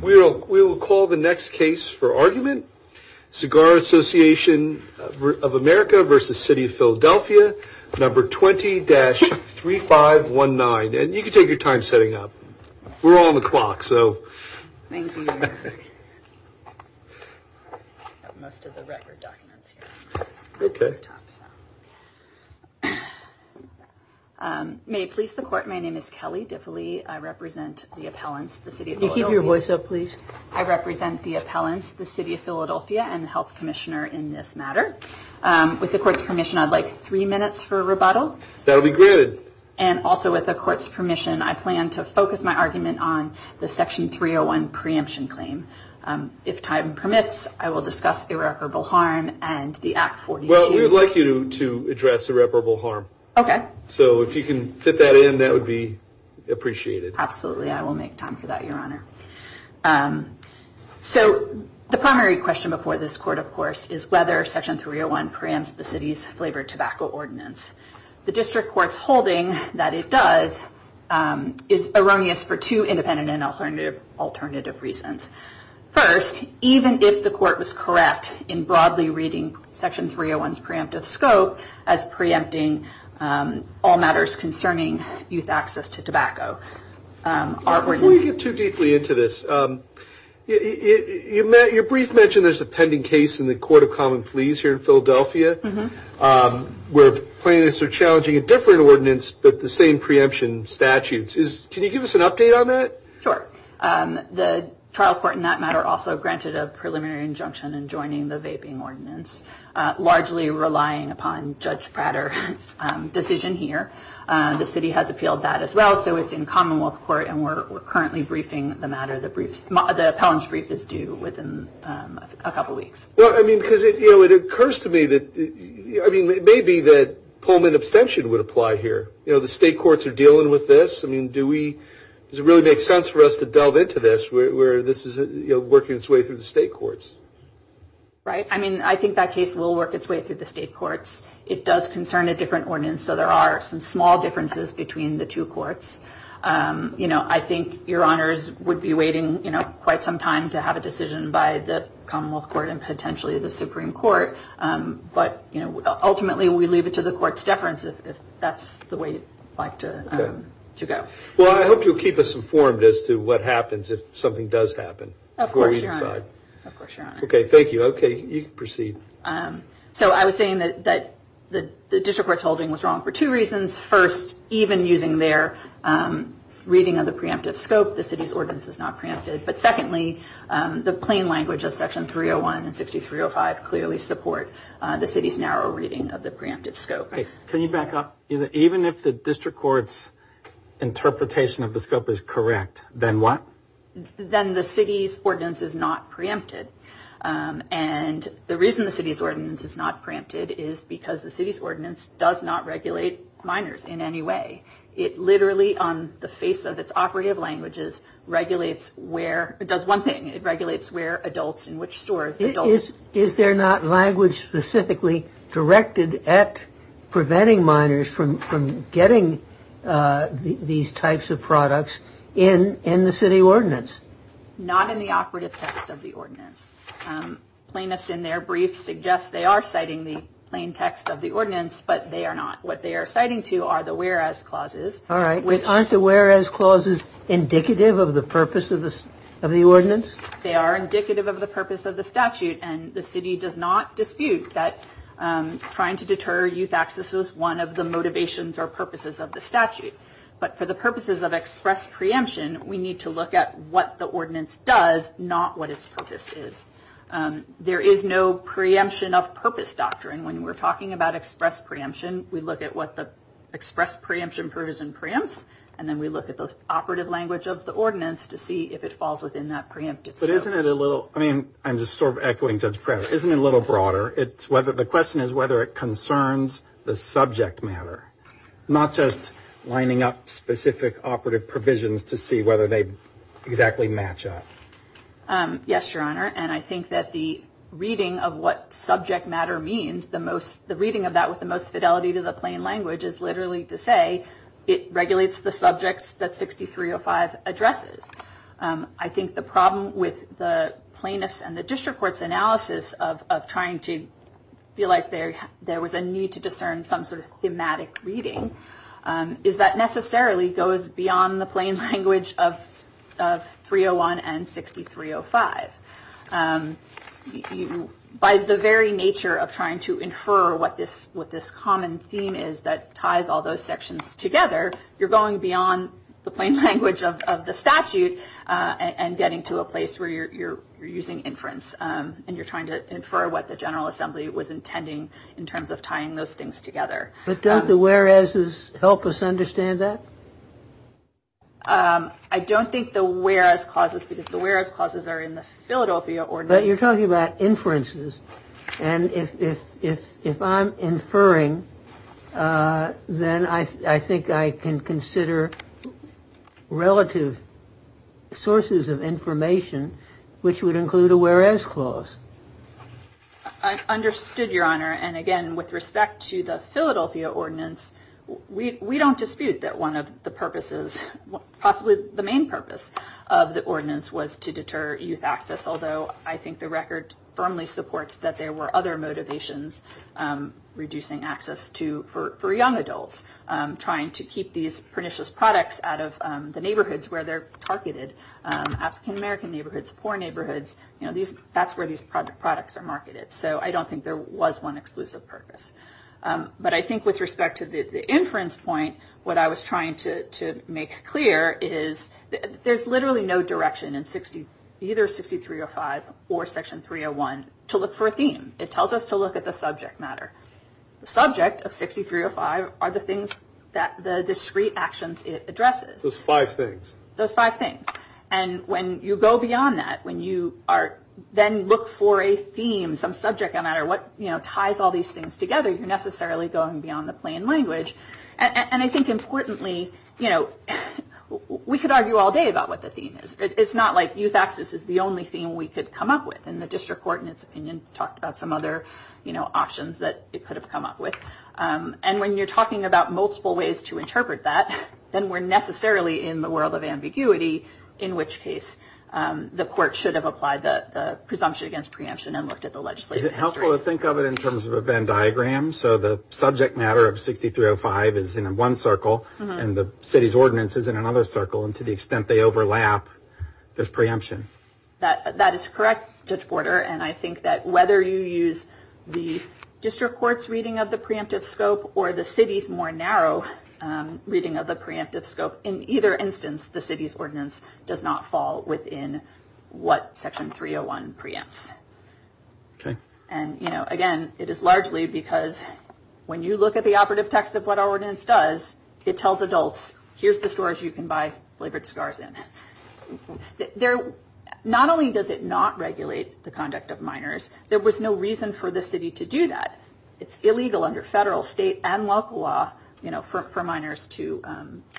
We will call the next case for argument. Cigar Association of America v. City of Philadelphia, number 20-3519. And you can take your time setting up. We're all on the clock, so. Thank you. Most of the record documents here. OK. May it please the court, my name is Kelly Diffily. I represent the appellants, the city of Loyola. Your voice up, please. I represent the appellants, the city of Philadelphia, and the health commissioner in this matter. With the court's permission, I'd like three minutes for rebuttal. That'll be good. And also with the court's permission, I plan to focus my argument on the section 301 preemption claim. If time permits, I will discuss irreparable harm and the Act 42. Well, we would like you to address irreparable harm. OK. So if you can fit that in, that would be appreciated. Absolutely, I will make time for that, your honor. So the primary question before this court, of course, is whether section 301 preempts the city's flavored tobacco ordinance. The district court's holding that it does is erroneous for two independent and alternative reasons. First, even if the court was correct in broadly reading section 301's preemptive scope as preempting all matters concerning youth access to tobacco, our ordinance- Before you get too deeply into this, your brief mentioned there's a pending case in the Court of Common Pleas here in Philadelphia where plaintiffs are challenging a different ordinance but the same preemption statutes. Can you give us an update on that? Sure. The trial court in that matter also granted a preliminary injunction in joining the vaping ordinance, largely relying upon Judge Prater's decision here. The city has appealed that as well, so it's in commonwealth court and we're currently briefing the matter. The appellant's brief is due within a couple of weeks. Well, I mean, because it occurs to me that maybe the Pullman abstention would apply here. The state courts are dealing with this. I mean, does it really make sense for us to delve into this where this is working its way through the state courts? Right, I mean, I think that case will work its way through the state courts. It does concern a different ordinance, so there are some small differences between the two courts. I think your honors would be waiting quite some time to have a decision by the commonwealth court and potentially the Supreme Court, but ultimately we leave it to the court's deference if that's the way you'd like to go. Well, I hope you'll keep us informed as to what happens if something does happen before we decide. Of course, your honor. OK, thank you. OK, you can proceed. So I was saying that the district court's holding was wrong for two reasons. First, even using their reading of the preemptive scope, the city's ordinance is not preempted. But secondly, the plain language of section 301 and 6305 clearly support the city's narrow reading of the preemptive scope. Can you back up? Even if the district court's interpretation of the scope is correct, then what? Then the city's ordinance is not preempted. And the reason the city's ordinance is not preempted is because the city's ordinance does not regulate minors in any way. It literally, on the face of its operative languages, regulates where it does one thing. It regulates where adults and which stores. Is there not language specifically directed at preventing minors from getting these types of products in the city ordinance? Not in the operative text of the ordinance. Plaintiffs in their briefs suggest they are citing the plain text of the ordinance, but they are not. What they are citing to are the whereas clauses. All right, but aren't the whereas clauses indicative of the purpose of the ordinance? They are indicative of the purpose of the statute. And the city does not dispute that trying to deter youth access was one of the motivations or purposes of the statute. But for the purposes of express preemption, we need to look at what the ordinance does, not what its purpose is. There is no preemption of purpose doctrine. When we're talking about express preemption, we look at what the express preemption provision preempts, and then we look at the operative language of the ordinance to see if it falls within that preemptive scope. I mean, I'm just sort of echoing Judge Pratt. Isn't it a little broader? The question is whether it concerns the subject matter, not just lining up specific operative provisions to see whether they exactly match up. Yes, Your Honor. And I think that the reading of what subject matter means, the reading of that with the most fidelity to the plain language is literally to say it regulates the subjects that 6305 addresses. I think the problem with the plaintiff's and the district court's analysis of trying to feel like there was a need to discern some sort of thematic reading is that necessarily goes beyond the plain language of 301 and 6305. By the very nature of trying to infer what this common theme is that ties all those sections together, you're going beyond the plain language of the statute and getting to a place where you're using inference, and you're trying to infer what the General Assembly was intending in terms of tying those things together. But don't the whereas's help us understand that? I don't think the whereas clauses, because the whereas clauses are in the Philadelphia ordinance. But you're talking about inferences. And if I'm inferring, then I think I can consider relative sources of information, which would include a whereas clause. I understood, Your Honor. And again, with respect to the Philadelphia ordinance, we don't dispute that one of the purposes, possibly the main purpose of the ordinance, was to deter youth access. Although, I think the record firmly supports that there were other motivations reducing access for young adults, trying to keep these pernicious products out of the neighborhoods where they're targeted. African-American neighborhoods, poor neighborhoods, that's where these products are marketed. So I don't think there was one exclusive purpose. But I think with respect to the inference point, what I was trying to make clear is there's literally no direction in either 6305 or Section 301 to look for a theme. It tells us to look at the subject matter. The subject of 6305 are the things that the discrete actions it addresses. Those five things. Those five things. And when you go beyond that, when you then look for a theme, some subject matter, what ties all these things together, you're necessarily going beyond the plain language. And I think importantly, we could argue all day about what the theme is. It's not like youth access is the only theme we could come up with. And the district court, in its opinion, talked about some other options that it could have come up with. And when you're talking about multiple ways to interpret that, then we're necessarily in the world of ambiguity, in which case the court should have applied the presumption against preemption and looked at the legislative history. It's helpful to think of it in terms of a Venn diagram. So the subject matter of 6305 is in one circle, and the city's ordinance is in another circle. And to the extent they overlap, there's preemption. That is correct, Judge Porter. And I think that whether you use the district court's reading of the preemptive scope or the city's more narrow reading of the preemptive scope, in either instance, the city's ordinance does not fall within what Section 301 preempts. OK. And again, it is largely because when you look at the operative text of what our ordinance does, it tells adults, here's the stores you can buy flavored scars in. Not only does it not regulate the conduct of minors, there was no reason for the city to do that. It's illegal under federal, state, and local law for minors to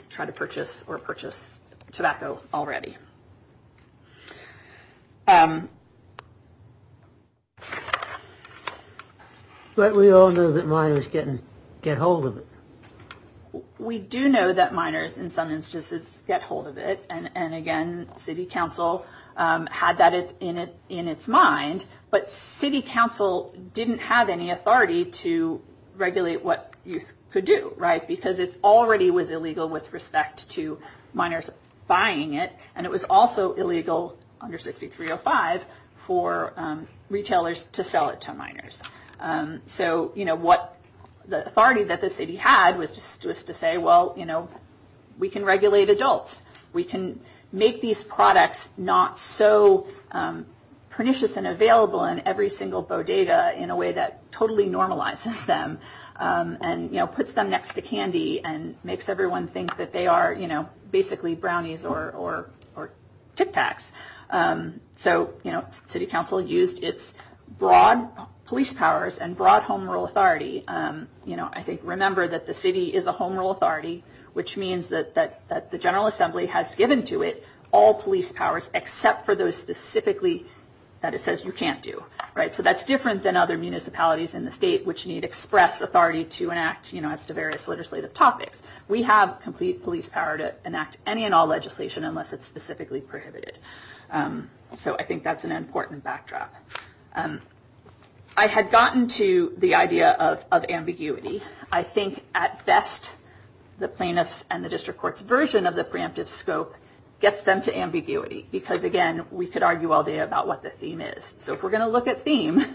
try to purchase or purchase tobacco already. But we all know that minors get hold of it. We do know that minors, in some instances, get hold of it. And again, city council had that in its mind. But city council didn't have any authority to regulate what youth could do, because it already was illegal with respect to minors buying it. And it was also illegal, under 6305, for retailers to sell it to minors. So the authority that the city had was to say, well, we can regulate adults. We can make these products not so pernicious and available in every single bodega in a way that totally normalizes them and puts them next to candy and makes everyone think that they are basically brownies or Tic Tacs. So city council used its broad police powers and broad home rule authority. I think remember that the city is a home rule authority, which means that the General Assembly has given to it all police powers, except for those specifically that it says you can't do. So that's different than other municipalities in the state which need express authority to enact as to various legislative topics. We have complete police power to enact any and all legislation unless it's specifically prohibited. So I think that's an important backdrop. I had gotten to the idea of ambiguity. I think at best, the plaintiff's and the district court's version of the preemptive scope gets them to ambiguity. Because again, we could argue all day about what the theme is. So if we're going to look at theme,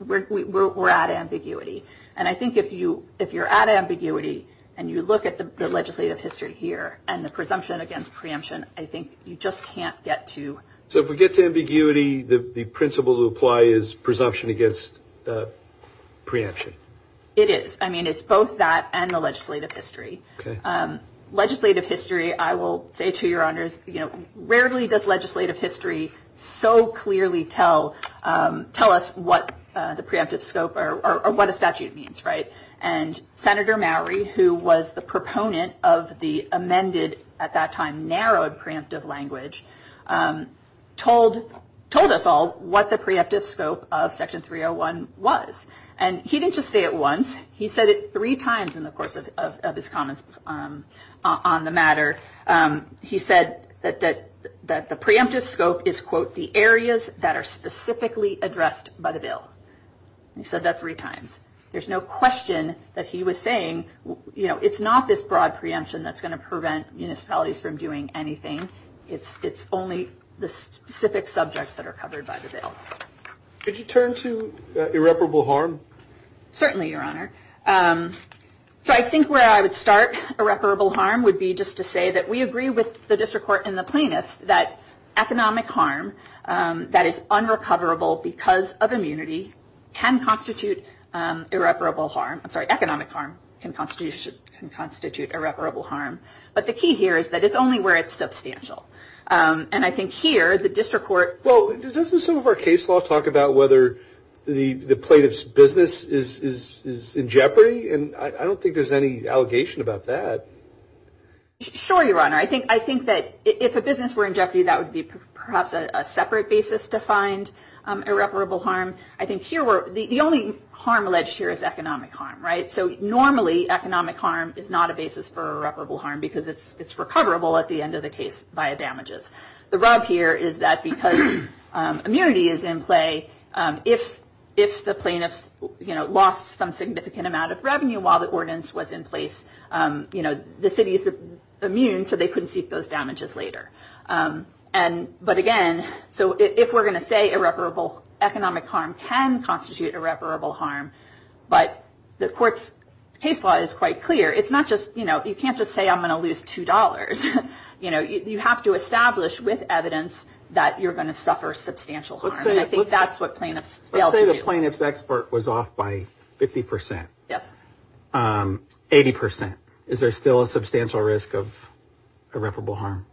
we're at ambiguity. And I think if you're at ambiguity and you look at the legislative history here and the presumption against preemption, I think you just can't get to. So if we get to ambiguity, the principle to apply is presumption against preemption. It is. I mean, it's both that and the legislative history. Legislative history, I will say to your honors, rarely does legislative history so clearly tell us what the preemptive scope or what a statute means. And Senator Mowery, who was the proponent of the amended, at that time, narrowed preemptive language, told us all what the preemptive scope of Section 301 was. And he didn't just say it once. He said it three times in the course of his comments on the matter. He said that the preemptive scope is, quote, the areas that are specifically addressed by the bill. He said that three times. There's no question that he was saying, it's not this broad preemption that's going to prevent municipalities from doing anything. It's only the specific subjects that are covered by the bill. Could you turn to irreparable harm? Certainly, your honor. So I think where I would start irreparable harm would be just to say that we agree with the district court and the plaintiffs that economic harm that is unrecoverable because of immunity can constitute irreparable harm. I'm sorry, economic harm can constitute irreparable harm. But the key here is that it's only where it's substantial. And I think here, the district court. Well, doesn't some of our case law talk about whether the plaintiff's business is in jeopardy? And I don't think there's any allegation about that. Sure, your honor. I think that if a business were in jeopardy, that would be perhaps a separate basis to find irreparable harm. I think here, the only harm alleged here is economic harm. So normally, economic harm is not a basis for irreparable harm because it's recoverable at the end of the case via damages. The rub here is that because immunity is in play, if the plaintiffs lost some significant amount of revenue while the ordinance was in place, the city is immune, so they couldn't seek those damages later. But again, so if we're going to say irreparable economic harm can constitute irreparable harm, but the court's case law is quite clear. It's not just, you can't just say I'm going to lose $2. You have to establish with evidence that you're going to suffer substantial harm. And I think that's what plaintiffs fail to do. Let's say the plaintiff's export was off by 50%. Yes. 80%. Is there still a substantial risk of irreparable harm?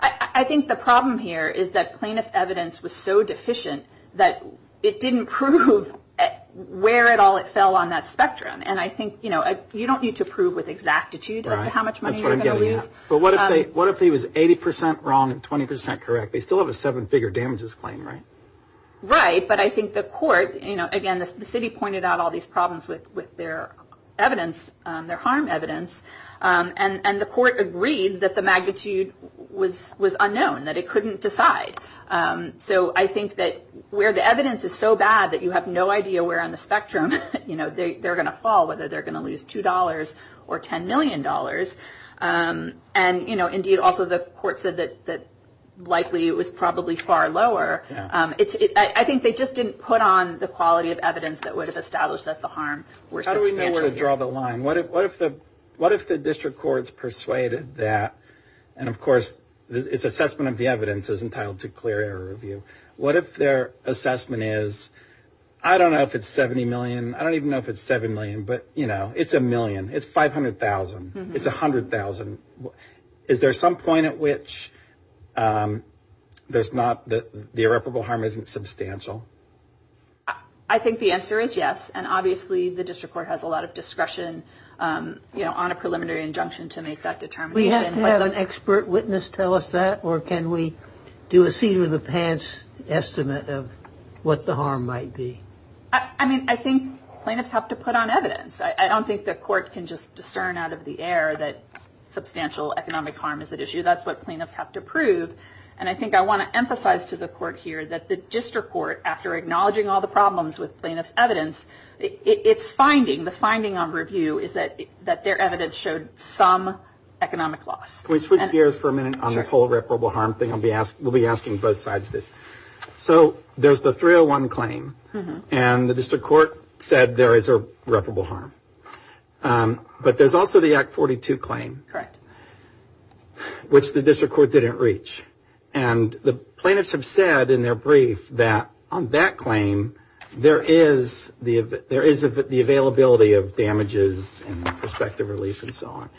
I think the problem here is that plaintiff's evidence was so deficient that it didn't prove where at all it fell on that spectrum. And I think you don't need to prove with exactitude as to how much money you're going to lose. Right. That's what I'm getting at. But what if he was 80% wrong and 20% correct? They still have a seven-figure damages claim, right? Right. But I think the court, again, the city pointed out all these problems with their evidence, their harm evidence. And the court agreed that the magnitude was unknown, that it couldn't decide. So I think that where the evidence is so bad that you have no idea where on the spectrum they're going to fall, whether they're going to lose $2 or $10 million. And indeed, also the court said that likely it was probably far lower. I think they just didn't put on the quality of evidence that would have established that the harm were substantial. How do we know where to draw the line? What if the district courts persuaded that? And of course, it's assessment of the evidence is entitled to clear error review. What if their assessment is, I don't know if it's $70 million. I don't even know if it's $7 million, but it's a million. It's $500,000. It's $100,000. Is there some point at which the irreparable harm isn't substantial? I think the answer is yes. And obviously, the district court has a lot of discretion on a preliminary injunction to make that determination. We have to have an expert witness tell us that? Or can we do a seat-of-the-pants estimate of what the harm might be? I mean, I think plaintiffs have to put on evidence. I don't think the court can just discern out of the air that substantial economic harm is at issue. That's what plaintiffs have to prove. And I think I want to emphasize to the court here that the district court, after acknowledging all the problems with plaintiff's evidence, the finding on review is that their evidence showed some economic loss. Can we switch gears for a minute on this whole irreparable harm thing? We'll be asking both sides this. So there's the 301 claim. And the district court said there is irreparable harm. But there's also the Act 42 claim, which the district court didn't reach. And the plaintiffs have said in their brief that on that claim, there is the availability of damages and prospective relief and so on.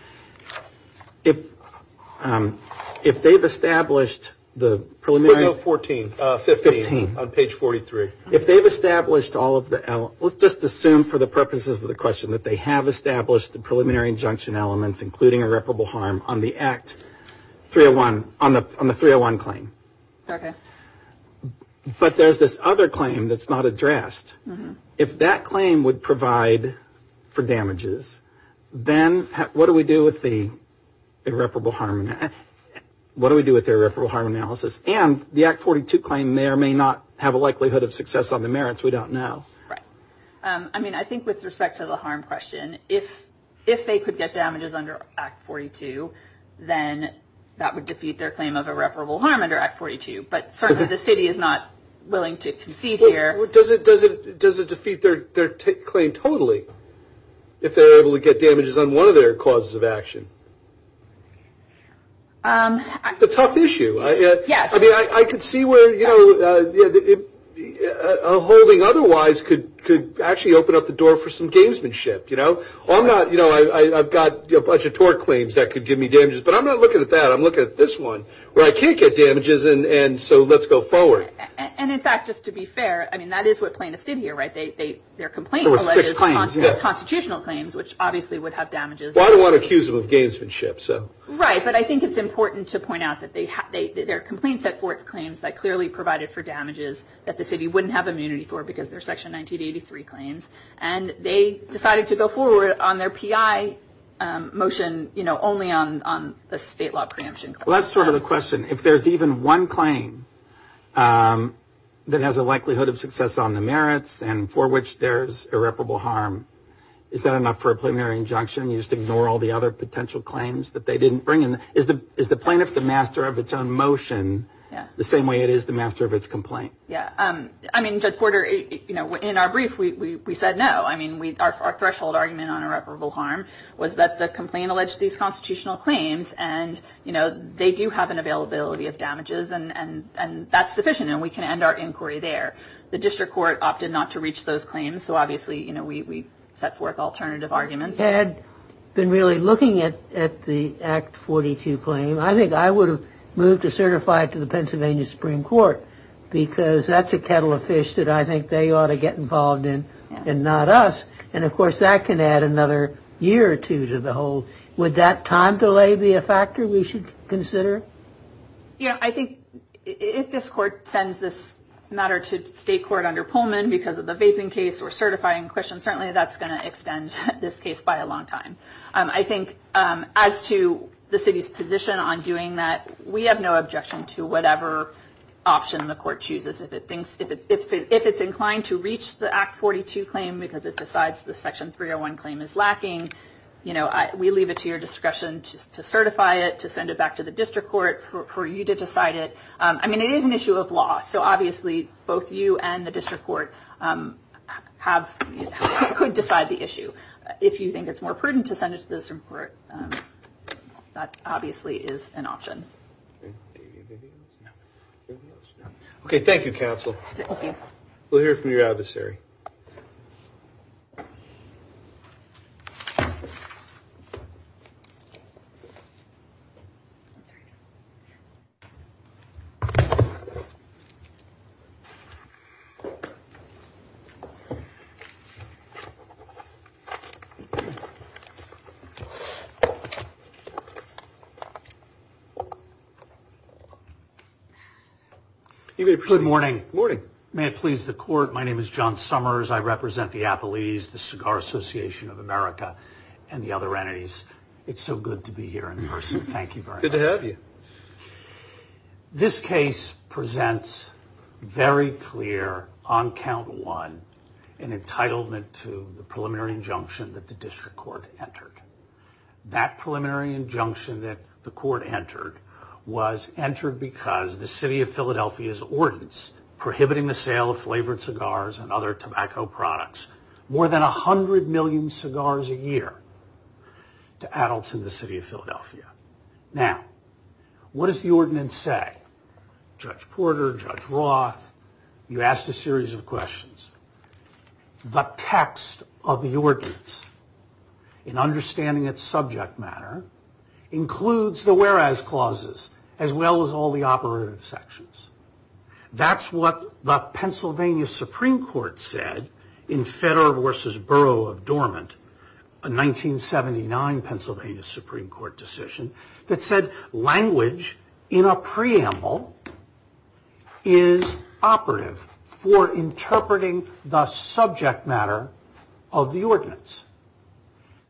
If they've established the preliminary- We'll go 14, 15 on page 43. If they've established all of the elements, let's just assume for the purposes of the question that they have established the preliminary injunction elements, including irreparable harm, on the Act 301, on the 301 claim. But there's this other claim that's not addressed. If that claim would provide for damages, then what do we do with the irreparable harm analysis? And the Act 42 claim there may not have a likelihood of success on the merits. We don't know. I mean, I think with respect to the harm question, if they could get damages under Act 42, then that would defeat their claim of irreparable harm under Act 42. But certainly, the city is not willing to concede here. Does it defeat their claim totally if they're able to get damages on one of their causes of action? It's a tough issue. I mean, I could see where a holding otherwise could actually open up the door for some gamesmanship. Or I've got a bunch of tort claims that could give me damages. But I'm not looking at that. I'm looking at this one, where I can't get damages, and so let's go forward. And in fact, just to be fair, I mean, that is what plaintiffs did here, right? Their complaint alleges constitutional claims, which obviously would have damages. Well, I don't want to accuse them of gamesmanship. Right, but I think it's important to point out that their complaint set forth claims that clearly provided for damages that the city wouldn't have immunity for, because they're Section 1983 claims. And they decided to go forward on their PI motion only on the state law preemption. Well, that's sort of the question. If there's even one claim that has a likelihood of success on the merits, and for which there's irreparable harm, is that enough for a preliminary injunction? You just ignore all the other potential claims that they didn't bring in? Is the plaintiff the master of its own motion the same way it is the master of its complaint? Yeah. I mean, Judge Porter, in our brief, we said no. I mean, our threshold argument on irreparable harm was that the complaint alleged these constitutional claims, and they do have an availability of damages, and that's sufficient, and we can end our inquiry there. The district court opted not to reach those claims, so obviously we set forth alternative arguments. Had been really looking at the Act 42 claim, I think I would have moved to certify it to the Pennsylvania Supreme Court, because that's a kettle of fish that I think they ought to get involved in, and not us. And of course, that can add another year or two to the whole. Would that time delay be a factor we should consider? Yeah, I think if this court sends this matter to state court under Pullman, because of the vaping case or certifying question, certainly that's gonna extend this case by a long time. I think as to the city's position on doing that, we have no objection to whatever option the court chooses. If it thinks, if it's inclined to reach the Act 42 claim, because it decides the Section 301 claim is lacking, we leave it to your discretion to certify it, to send it back to the district court for you to decide it. I mean, it is an issue of law, so obviously both you and the district court could decide the issue. If you think it's more prudent to send it to the district court, that obviously is an option. Okay, thank you, counsel. We'll hear from your adversary. Thank you. Good morning. Morning. May it please the court, my name is John Summers. I represent the Appellees, the Cigar Association of America, and the other entities. It's so good to be here in person. Thank you very much. Good to have you. This case presents very clear, on count one, an entitlement to the preliminary injunction that the district court entered. That preliminary injunction that the court entered was entered because the city of Philadelphia's ordinance prohibiting the sale of flavored cigars and other tobacco products, more than a hundred million cigars a year to adults in the city of Philadelphia. Now, what does the ordinance say? Judge Porter, Judge Roth, you asked a series of questions. The text of the ordinance, in understanding its subject matter, includes the whereas clauses, as well as all the operative sections. That's what the Pennsylvania Supreme Court said in Federer versus Burrough of Dormant, a 1979 Pennsylvania Supreme Court decision that said language in a preamble is operative for interpreting the subject matter of the ordinance.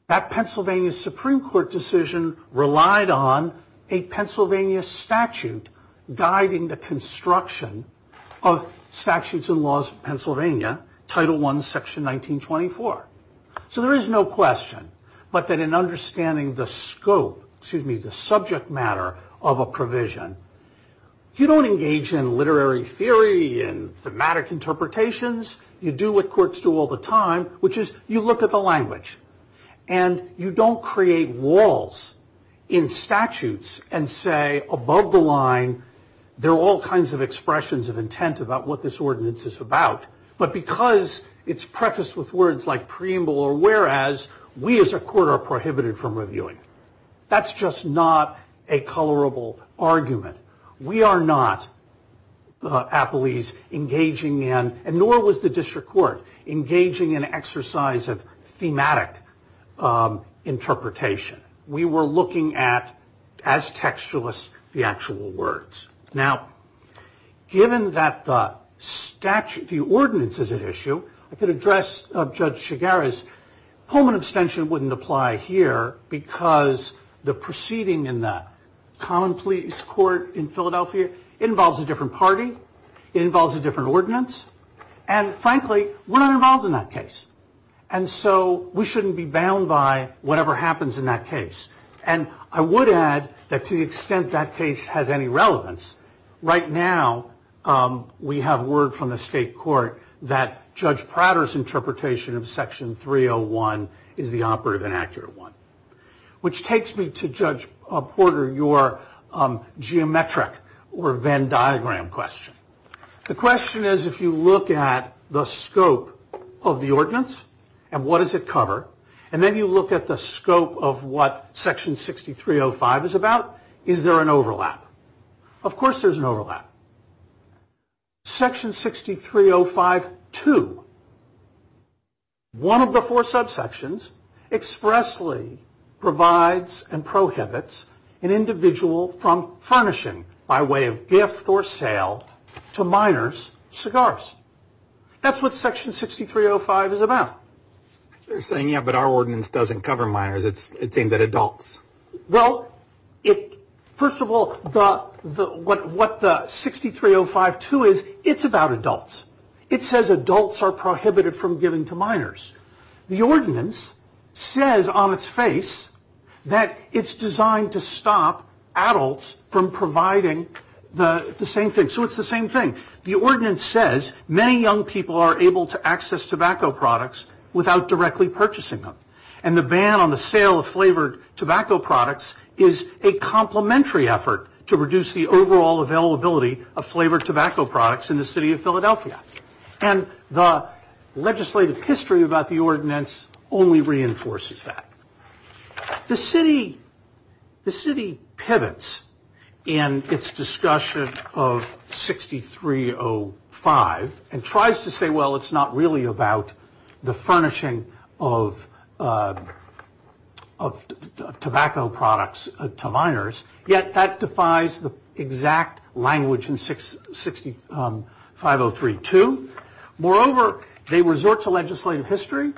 That Pennsylvania Supreme Court decision relied on a Pennsylvania statute guiding the construction of statutes and laws of Pennsylvania, Title I, Section 1924. So there is no question, but that in understanding the scope, excuse me, the subject matter of a provision, you don't engage in literary theory and thematic interpretations. You do what courts do all the time, which is you look at the language and you don't create walls in statutes and say, above the line, there are all kinds of expressions of intent about what this ordinance is about. But because it's prefaced with words like preamble or whereas, we as a court are prohibited from reviewing. That's just not a colorable argument. We are not, Applees, engaging in, and nor was the district court, engaging in exercise of thematic interpretation. We were looking at, as textualists, the actual words. Now, given that the statute, the ordinance is at issue, I could address Judge Shigera's, Pullman abstention wouldn't apply here because the proceeding in that common police court in Philadelphia, it involves a different party, it involves a different ordinance, and frankly, we're not involved in that case. And so we shouldn't be bound by whatever happens in that case. And I would add that to the extent that case has any relevance, right now, we have word from the state court that Judge Prater's interpretation of section 301 is the operative and accurate one. Which takes me to Judge Porter, your geometric or Venn diagram question. The question is, if you look at the scope of the ordinance and what does it cover, and then you look at the scope of what section 6305 is about, is there an overlap? Of course there's an overlap. Section 6305-2, one of the four subsections, expressly provides and prohibits an individual from furnishing, by way of gift or sale, to minors, cigars. That's what section 6305 is about. You're saying, yeah, but our ordinance doesn't cover minors, it's aimed at adults. Well, first of all, what the 6305-2 is, it's about adults. It says adults are prohibited from giving to minors. The ordinance says on its face that it's designed to stop adults from providing the same thing. So it's the same thing. The ordinance says, many young people are able to access tobacco products without directly purchasing them. And the ban on the sale of flavored tobacco products is a complementary effort to reduce the overall availability of flavored tobacco products in the city of Philadelphia. And the legislative history about the ordinance only reinforces that. The city, the city pivots in its discussion of 6305 and tries to say, well, it's not really about the furnishing of tobacco products to minors, yet that defies the exact language in 6503-2. Moreover, they resort to legislative history.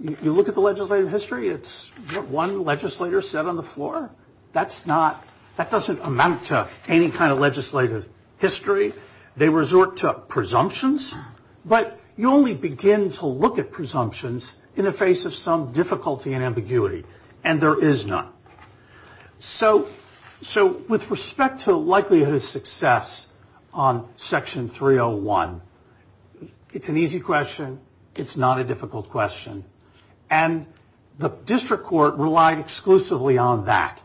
You look at the legislative history, it's what one legislator said on the floor. That's not, that doesn't amount to any kind of legislative history. They resort to presumptions, but you only begin to look at presumptions in the face of some difficulty and ambiguity. And there is none. So with respect to likelihood of success on section 301, it's an easy question. It's not a difficult question. And the district court relied exclusively on that.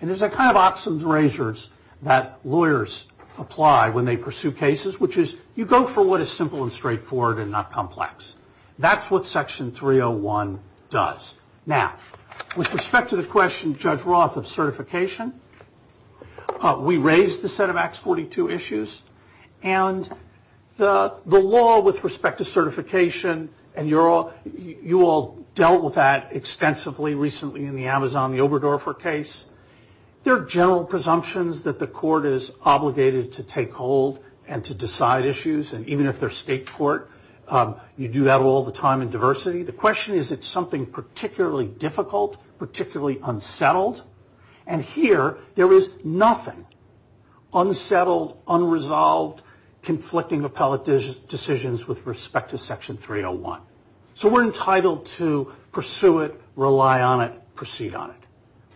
And there's a kind of oxen's razors that lawyers apply when they pursue cases, which is you go for what is simple and straightforward and not complex. That's what section 301 does. Now, with respect to the question, Judge Roth, of certification, we raised the set of Acts 42 issues and the law with respect to certification and you all dealt with that extensively recently in the Amazon, the Oberdorfer case. There are general presumptions that the court is obligated to take hold and to decide issues. And even if they're state court, you do that all the time in diversity. The question is, is it something particularly difficult, particularly unsettled? And here there is nothing unsettled, unresolved, conflicting appellate decisions with respect to section 301. So we're entitled to pursue it, rely on it, proceed on it.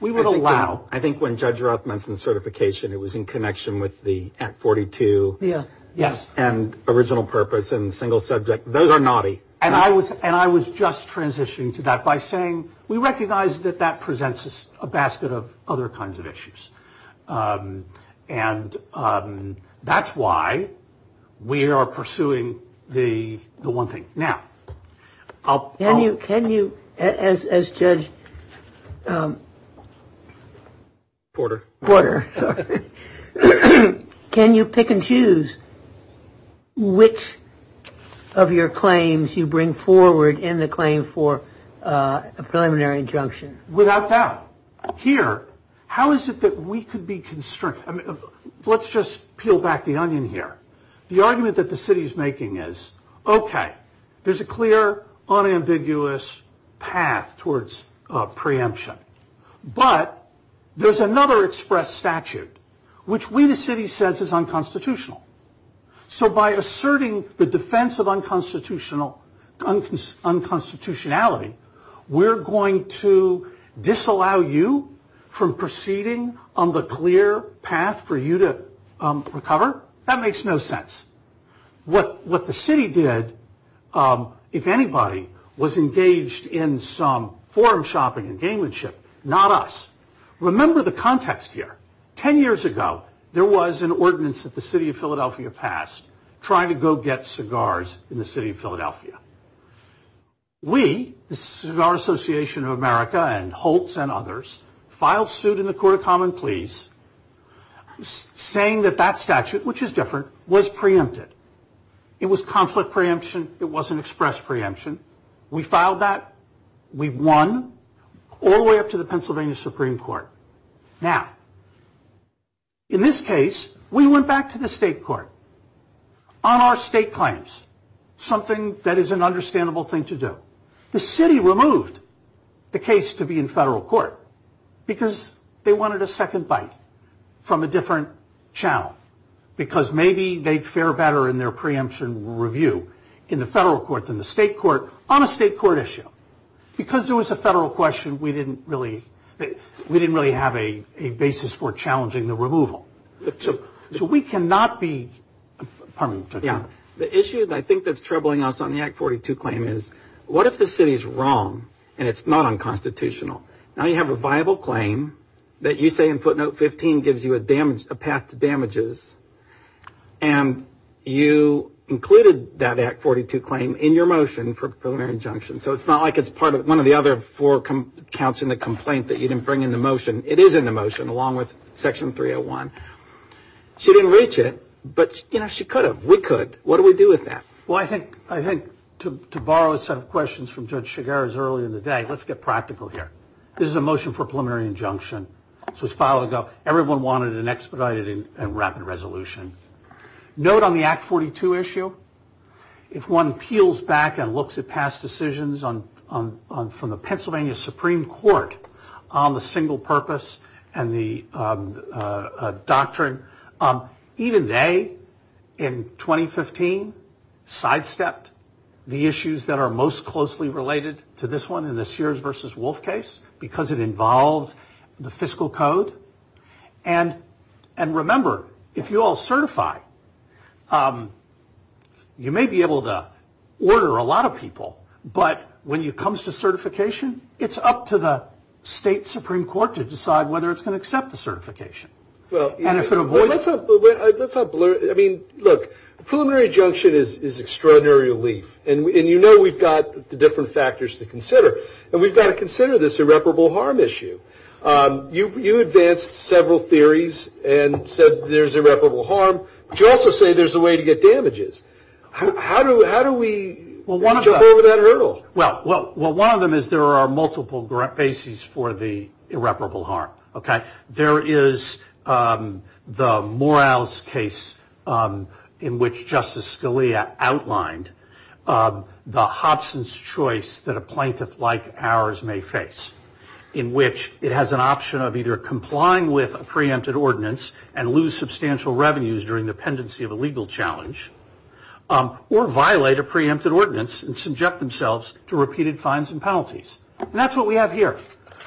We would allow. I think when Judge Roth mentioned certification, it was in connection with the Act 42. Yeah, yes. And original purpose and single subject. Those are naughty. And I was just transitioning to that by saying, we recognize that that presents us a basket of other kinds of issues. And that's why we are pursuing the one thing. Now, I'll- Can you, as Judge Porter, can you pick and choose which of your claims you bring forward in the claim for a preliminary injunction? Without doubt. Here, how is it that we could be constrained? Let's just peel back the onion here. The argument that the city is making is, okay, there's a clear unambiguous path towards preemption. But there's another express statute, which we, the city, says is unconstitutional. So by asserting the defense of unconstitutionality, we're going to disallow you from proceeding on the clear path for you to recover? That makes no sense. What the city did, if anybody, was engaged in some forum shopping and gamemanship. Not us. Remember the context here. 10 years ago, there was an ordinance trying to go get cigars in the city of Philadelphia. We, the Cigar Association of America, and Holtz and others, filed suit in the Court of Common Pleas, saying that that statute, which is different, was preempted. It was conflict preemption. It wasn't express preemption. We filed that. We won, all the way up to the Pennsylvania Supreme Court. Now, in this case, we went back to the state court on our state claims. Something that is an understandable thing to do. The city removed the case to be in federal court because they wanted a second bite from a different channel. Because maybe they'd fare better in their preemption review in the federal court than the state court on a state court issue. Because there was a federal question, we didn't really have a basis for challenging the removal. So we cannot be, pardon me. The issue that I think that's troubling us on the Act 42 claim is, what if the city's wrong and it's not unconstitutional? Now you have a viable claim that you say in footnote 15 gives you a path to damages. And you included that Act 42 claim in your motion for preliminary injunction. So it's not like it's one of the other four counts in the complaint that you didn't bring into motion. It is in the motion, along with section 301. She didn't reach it, but she could have. We could, what do we do with that? Well, I think to borrow a set of questions from Judge Chigurh's earlier in the day, let's get practical here. This is a motion for preliminary injunction. This was filed ago. Everyone wanted an expedited and rapid resolution. Note on the Act 42 issue, if one peels back and looks at past decisions from the Pennsylvania Supreme Court on the single purpose and the doctrine, even they, in 2015, sidestepped the issues that are most closely related to this one in the Sears versus Wolf case, because it involved the fiscal code. And remember, if you all certify, you may be able to order a lot of people, but when it comes to certification, it's up to the state Supreme Court to decide whether it's gonna accept the certification. And if it avoids it. Well, let's not blur it. I mean, look, preliminary injunction is extraordinary relief. And you know we've got the different factors to consider. And we've got to consider this irreparable harm issue. You advanced several theories and said there's irreparable harm, but you also say there's a way to get damages. How do we jump over that hurdle? Well, one of them is there are multiple bases for the irreparable harm, okay? There is the Morales case in which Justice Scalia outlined the Hobson's choice that a plaintiff like ours may face, in which it has an option of either complying with a preempted ordinance and lose substantial revenues during the pendency of a legal challenge, or violate a preempted ordinance and subject themselves to repeated fines and penalties. And that's what we have here.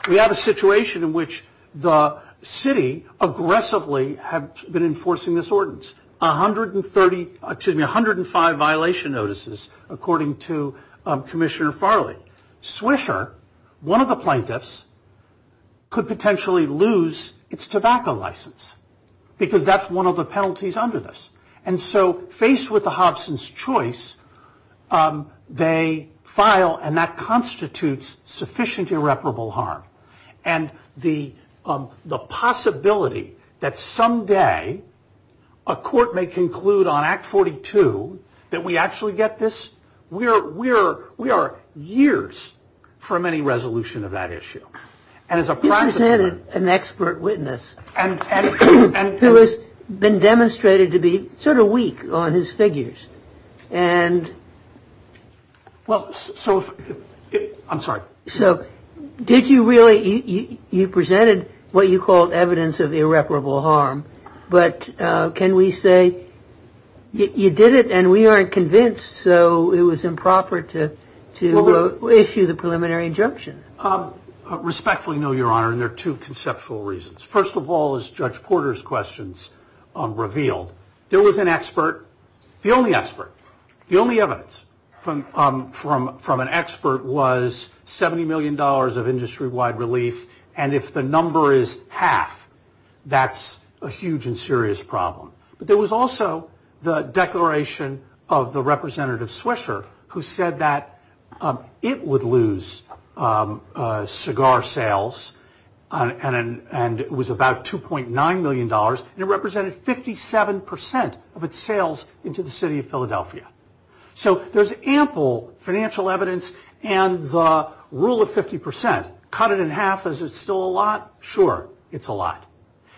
We have a situation in which the city aggressively have been enforcing this ordinance. 130, excuse me, 105 violation notices according to Commissioner Farley. Swisher, one of the plaintiffs, could potentially lose its tobacco license because that's one of the penalties under this. And so faced with the Hobson's choice, they file and that constitutes sufficient irreparable harm. And the possibility that someday a court may conclude on Act 42 that we actually get this, we are years from any resolution of that issue. And as a practice- He presented an expert witness who has been demonstrated to be sort of weak on his figures. And- Well, so if, I'm sorry. So did you really, you presented what you called evidence of irreparable harm, but can we say you did it and we aren't convinced so it was improper to issue the preliminary injunction? Respectfully, no, Your Honor. And there are two conceptual reasons. First of all, as Judge Porter's questions revealed, there was an expert, the only expert, the only evidence from an expert was $70 million of industry-wide relief. And if the number is half, that's a huge and serious problem. But there was also the declaration of the Representative Swisher who said that it would lose cigar sales and it was about $2.9 million. And it represented 57% of its sales into the city of Philadelphia. So there's ample financial evidence and the rule of 50%. Cut it in half, is it still a lot? Sure, it's a lot.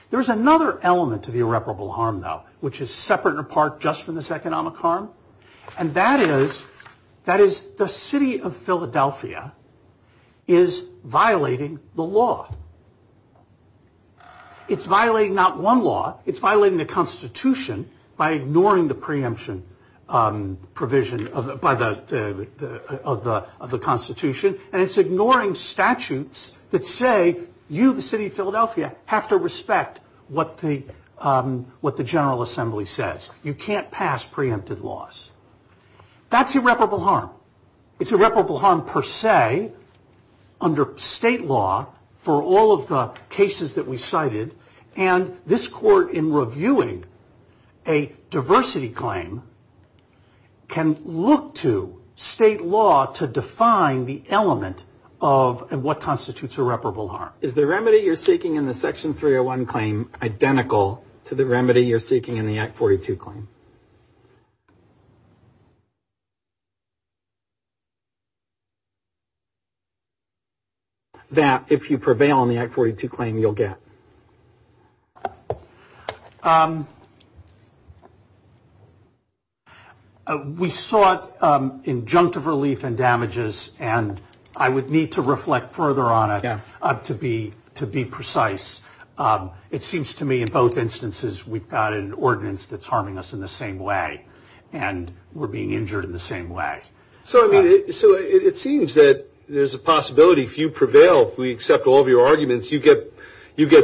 There's another element to the irreparable harm though, which is separate and apart just from this economic harm. And that is the city of Philadelphia is violating the law. It's violating not one law, it's violating the Constitution by ignoring the preemption provision of the Constitution. And it's ignoring statutes that say, you, the city of Philadelphia, have to respect what the General Assembly says. You can't pass preempted laws. That's irreparable harm. It's irreparable harm per se under state law for all of the cases that we cited. And this court in reviewing a diversity claim can look to state law to define the element of what constitutes irreparable harm. Is the remedy you're seeking in the Section 301 claim identical to the remedy you're seeking in the Act 42 claim? That if you prevail on the Act 42 claim, you'll get. We sought injunctive relief and damages, and I would need to reflect further on it to be precise. It seems to me in both instances, we've got an ordinance that's harming us in this case. We're being harmed in the same way, and we're being injured in the same way. So it seems that there's a possibility, if you prevail, if we accept all of your arguments, you get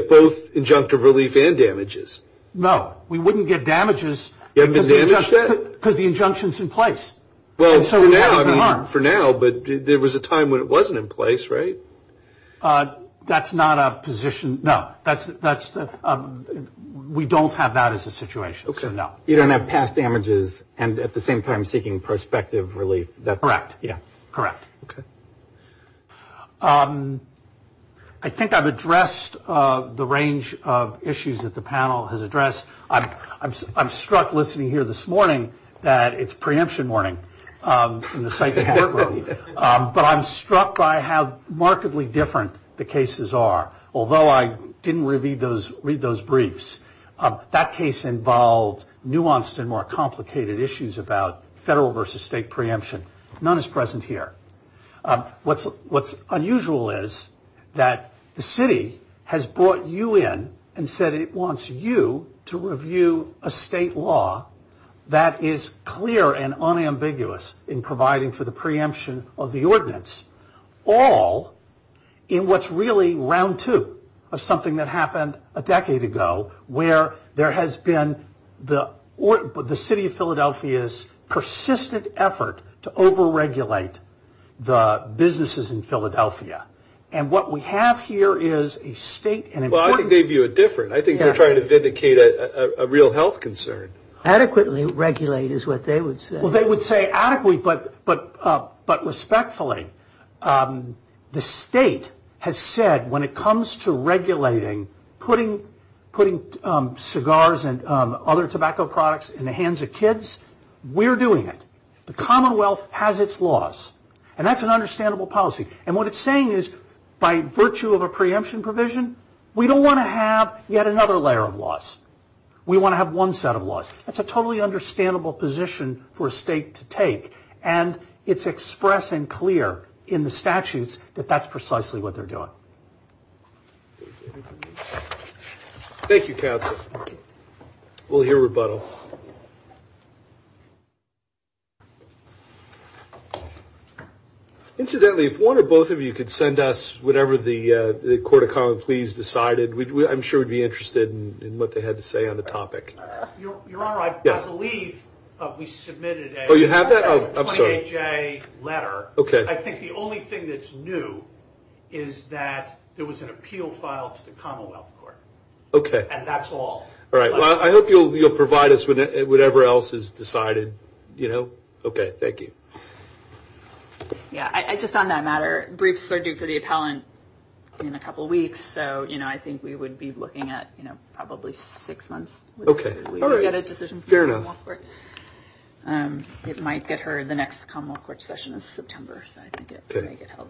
both injunctive relief and damages. No, we wouldn't get damages. You haven't been damaged yet? Because the injunction's in place. Well, for now, but there was a time when it wasn't in place, right? That's not a position, no. We don't have that as a situation, so no. You don't have past damages, and at the same time, seeking prospective relief. Correct, yeah, correct. I think I've addressed the range of issues that the panel has addressed. I'm struck listening here this morning that it's preemption morning in the psych work room, but I'm struck by how markedly different the cases are. Although I didn't read those briefs, that case involved nuanced and more complicated issues about federal versus state preemption. None is present here. What's unusual is that the city has brought you in and said it wants you to review a state law that is clear and unambiguous in providing for the preemption of the ordinance, all in what's really round two of something that happened a decade ago, where there has been the city of Philadelphia's persistent effort to over-regulate the businesses in Philadelphia. And what we have here is a state and important- Well, I think they view it different. I think they're trying to vindicate a real health concern. Adequately regulate is what they would say. Well, they would say adequately, but respectfully, the state has said when it comes to regulating, putting cigars and other tobacco products in the hands of kids, we're doing it. The Commonwealth has its laws, and that's an understandable policy. And what it's saying is, by virtue of a preemption provision, we don't want to have yet another layer of laws. We want to have one set of laws. That's a totally understandable position for a state to take, and it's express and clear in the statutes that that's precisely what they're doing. Thank you, counsel. We'll hear rebuttal. Incidentally, if one or both of you could send us whatever the Court of Common Pleas decided, I'm sure we'd be interested in what they had to say on the topic. Your Honor, I believe we submitted a- Oh, you have that? Oh, I'm sorry. A 28-J letter. Okay. I think the only thing that's new is that there was an appeal filed to the Commonwealth Court. Okay. And that's all. All right, well, I hope you'll provide us whatever else is decided, you know? Okay, thank you. Yeah, just on that matter, briefs are due for the appellant in a couple weeks, so, you know, I think we would be looking at, you know, probably six months. Okay, all right. We would get a decision from the Commonwealth Court. It might get heard, the next Commonwealth Court session is September, so I think it may get held.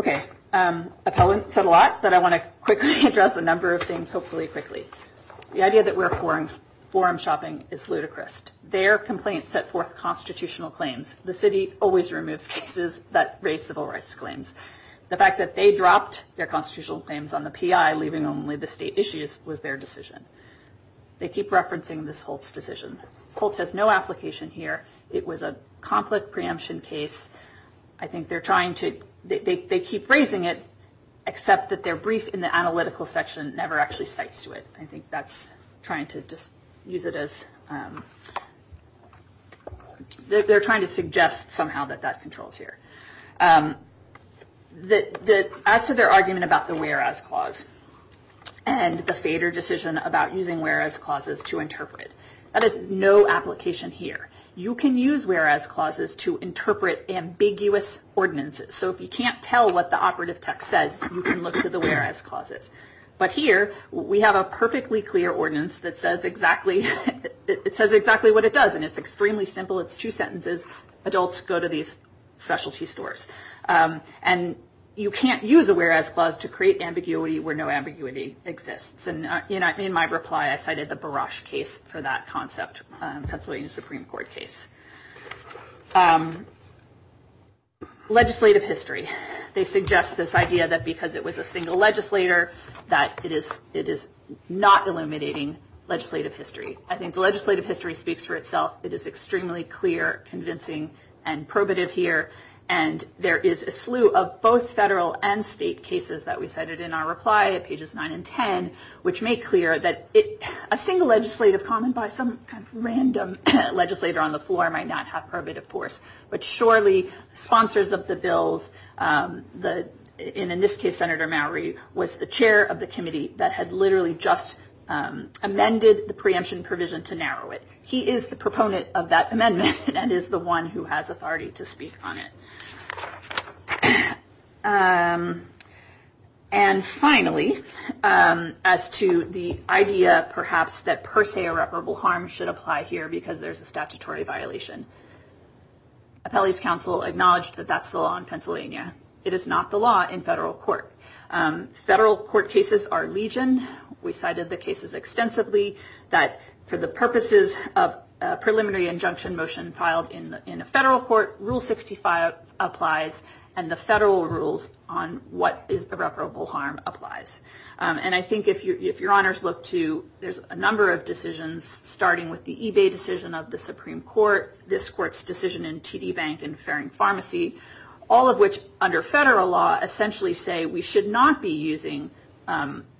Okay, appellant said a lot, but I want to quickly address a number of things, hopefully quickly. The idea that we're forum shopping is ludicrous. Their complaint set forth constitutional claims. The city always removes cases that raise civil rights claims. The fact that they dropped their constitutional claims on the PI, leaving only the state issues, was their decision. They keep referencing this Holtz decision. Holtz has no application here. It was a conflict preemption case. I think they're trying to, they keep raising it, except that their brief in the analytical section never actually cites to it. I think that's trying to just use it as, they're trying to suggest somehow that that controls here. As to their argument about the whereas clause, and the fader decision about using whereas clauses to interpret it, that is no application here. You can use whereas clauses to interpret ambiguous ordinances. So if you can't tell what the operative text says, you can look to the whereas clauses. But here, we have a perfectly clear ordinance that says exactly, it says exactly what it does. And it's extremely simple, it's two sentences. Adults go to these specialty stores. And you can't use a whereas clause to create ambiguity where no ambiguity exists. And in my reply, I cited the Barash case for that concept, Pennsylvania Supreme Court case. Legislative history, they suggest this idea that because it was a single legislator, that it is not eliminating legislative history. I think the legislative history speaks for itself. It is extremely clear, convincing, and probative here. And there is a slew of both federal and state cases that we cited in our reply at pages nine and 10, which make clear that a single legislative comment by some kind of random legislator on the floor might not have probative force. But surely, sponsors of the bills, and in this case, Senator Mowery, was the chair of the committee that had literally just amended the preemption provision to narrow it. He is the proponent of that amendment and is the one who has authority to speak on it. And finally, as to the idea, perhaps, that per se irreparable harm should apply here because there's a statutory violation. Appellees Council acknowledged that that's the law in Pennsylvania. It is not the law in federal court. Federal court cases are legion. We cited the cases extensively that for the purposes of preliminary injunction motion filed in a federal court, rule 65 applies and the federal rules on what is irreparable harm applies. And I think if your honors look to, there's a number of decisions, starting with the eBay decision of the Supreme Court, this court's decision in TD Bank and Farring Pharmacy, all of which under federal law essentially say we should not be using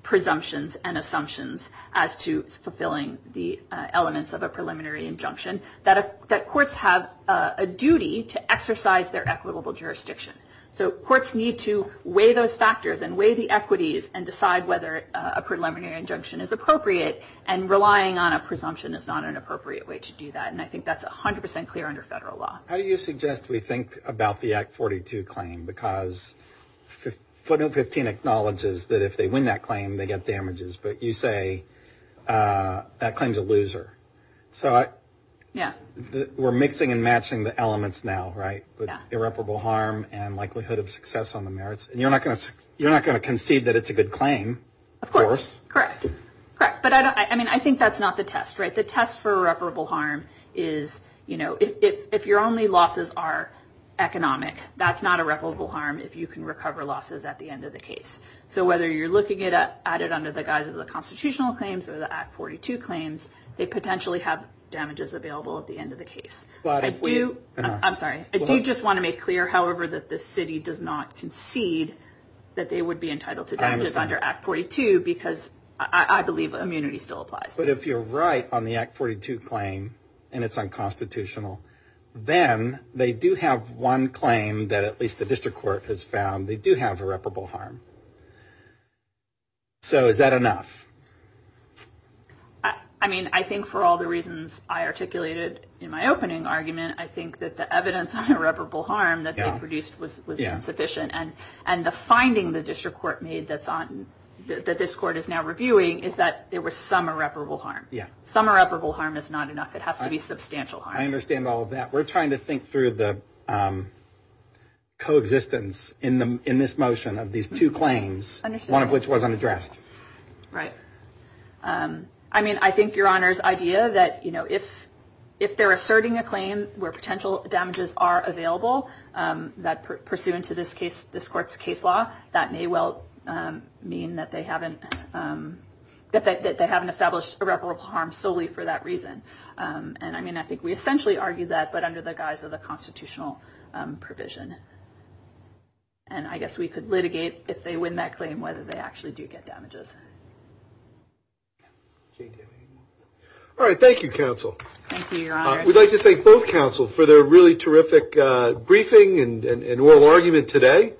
presumptions and assumptions as to fulfilling the elements of a preliminary injunction, that courts have a duty to exercise their equitable jurisdiction. So courts need to weigh those factors and weigh the equities and decide whether a preliminary injunction is appropriate and relying on a presumption is not an appropriate way to do that. And I think that's 100% clear under federal law. How do you suggest we think about the Act 42 claim because footnote 15 acknowledges but you say that claim's a loser. So we're mixing and matching the elements now, right? With irreparable harm and likelihood of success on the merits. And you're not going to concede that it's a good claim. Of course, correct, correct. But I mean, I think that's not the test, right? The test for irreparable harm is, you know, if your only losses are economic, that's not irreparable harm if you can recover losses at the end of the case. So whether you're looking at it under the guise of the constitutional claims or the Act 42 claims, they potentially have damages available at the end of the case. But I do, I'm sorry, I do just want to make clear, however, that the city does not concede that they would be entitled to damages under Act 42 because I believe immunity still applies. But if you're right on the Act 42 claim and it's unconstitutional, then they do have one claim that at least the district court has found, they do have irreparable harm. So is that enough? I mean, I think for all the reasons I articulated in my opening argument, I think that the evidence on irreparable harm that they produced was insufficient. And the finding the district court made that this court is now reviewing is that there was some irreparable harm. Some irreparable harm is not enough. It has to be substantial harm. I understand all of that. We're trying to think through the coexistence in this motion of these two claims, one of which was unaddressed. Right. I mean, I think Your Honor's idea that if they're asserting a claim where potential damages are available that pursuant to this court's case law, that may well mean that they haven't, that they haven't established irreparable harm solely for that reason. And I mean, I think we essentially argued that, but under the guise of the constitutional provision. And I guess we could litigate if they win that claim whether they actually do get damages. All right, thank you, counsel. Thank you, Your Honor. We'd like to thank both counsel for their really terrific briefing and oral argument today.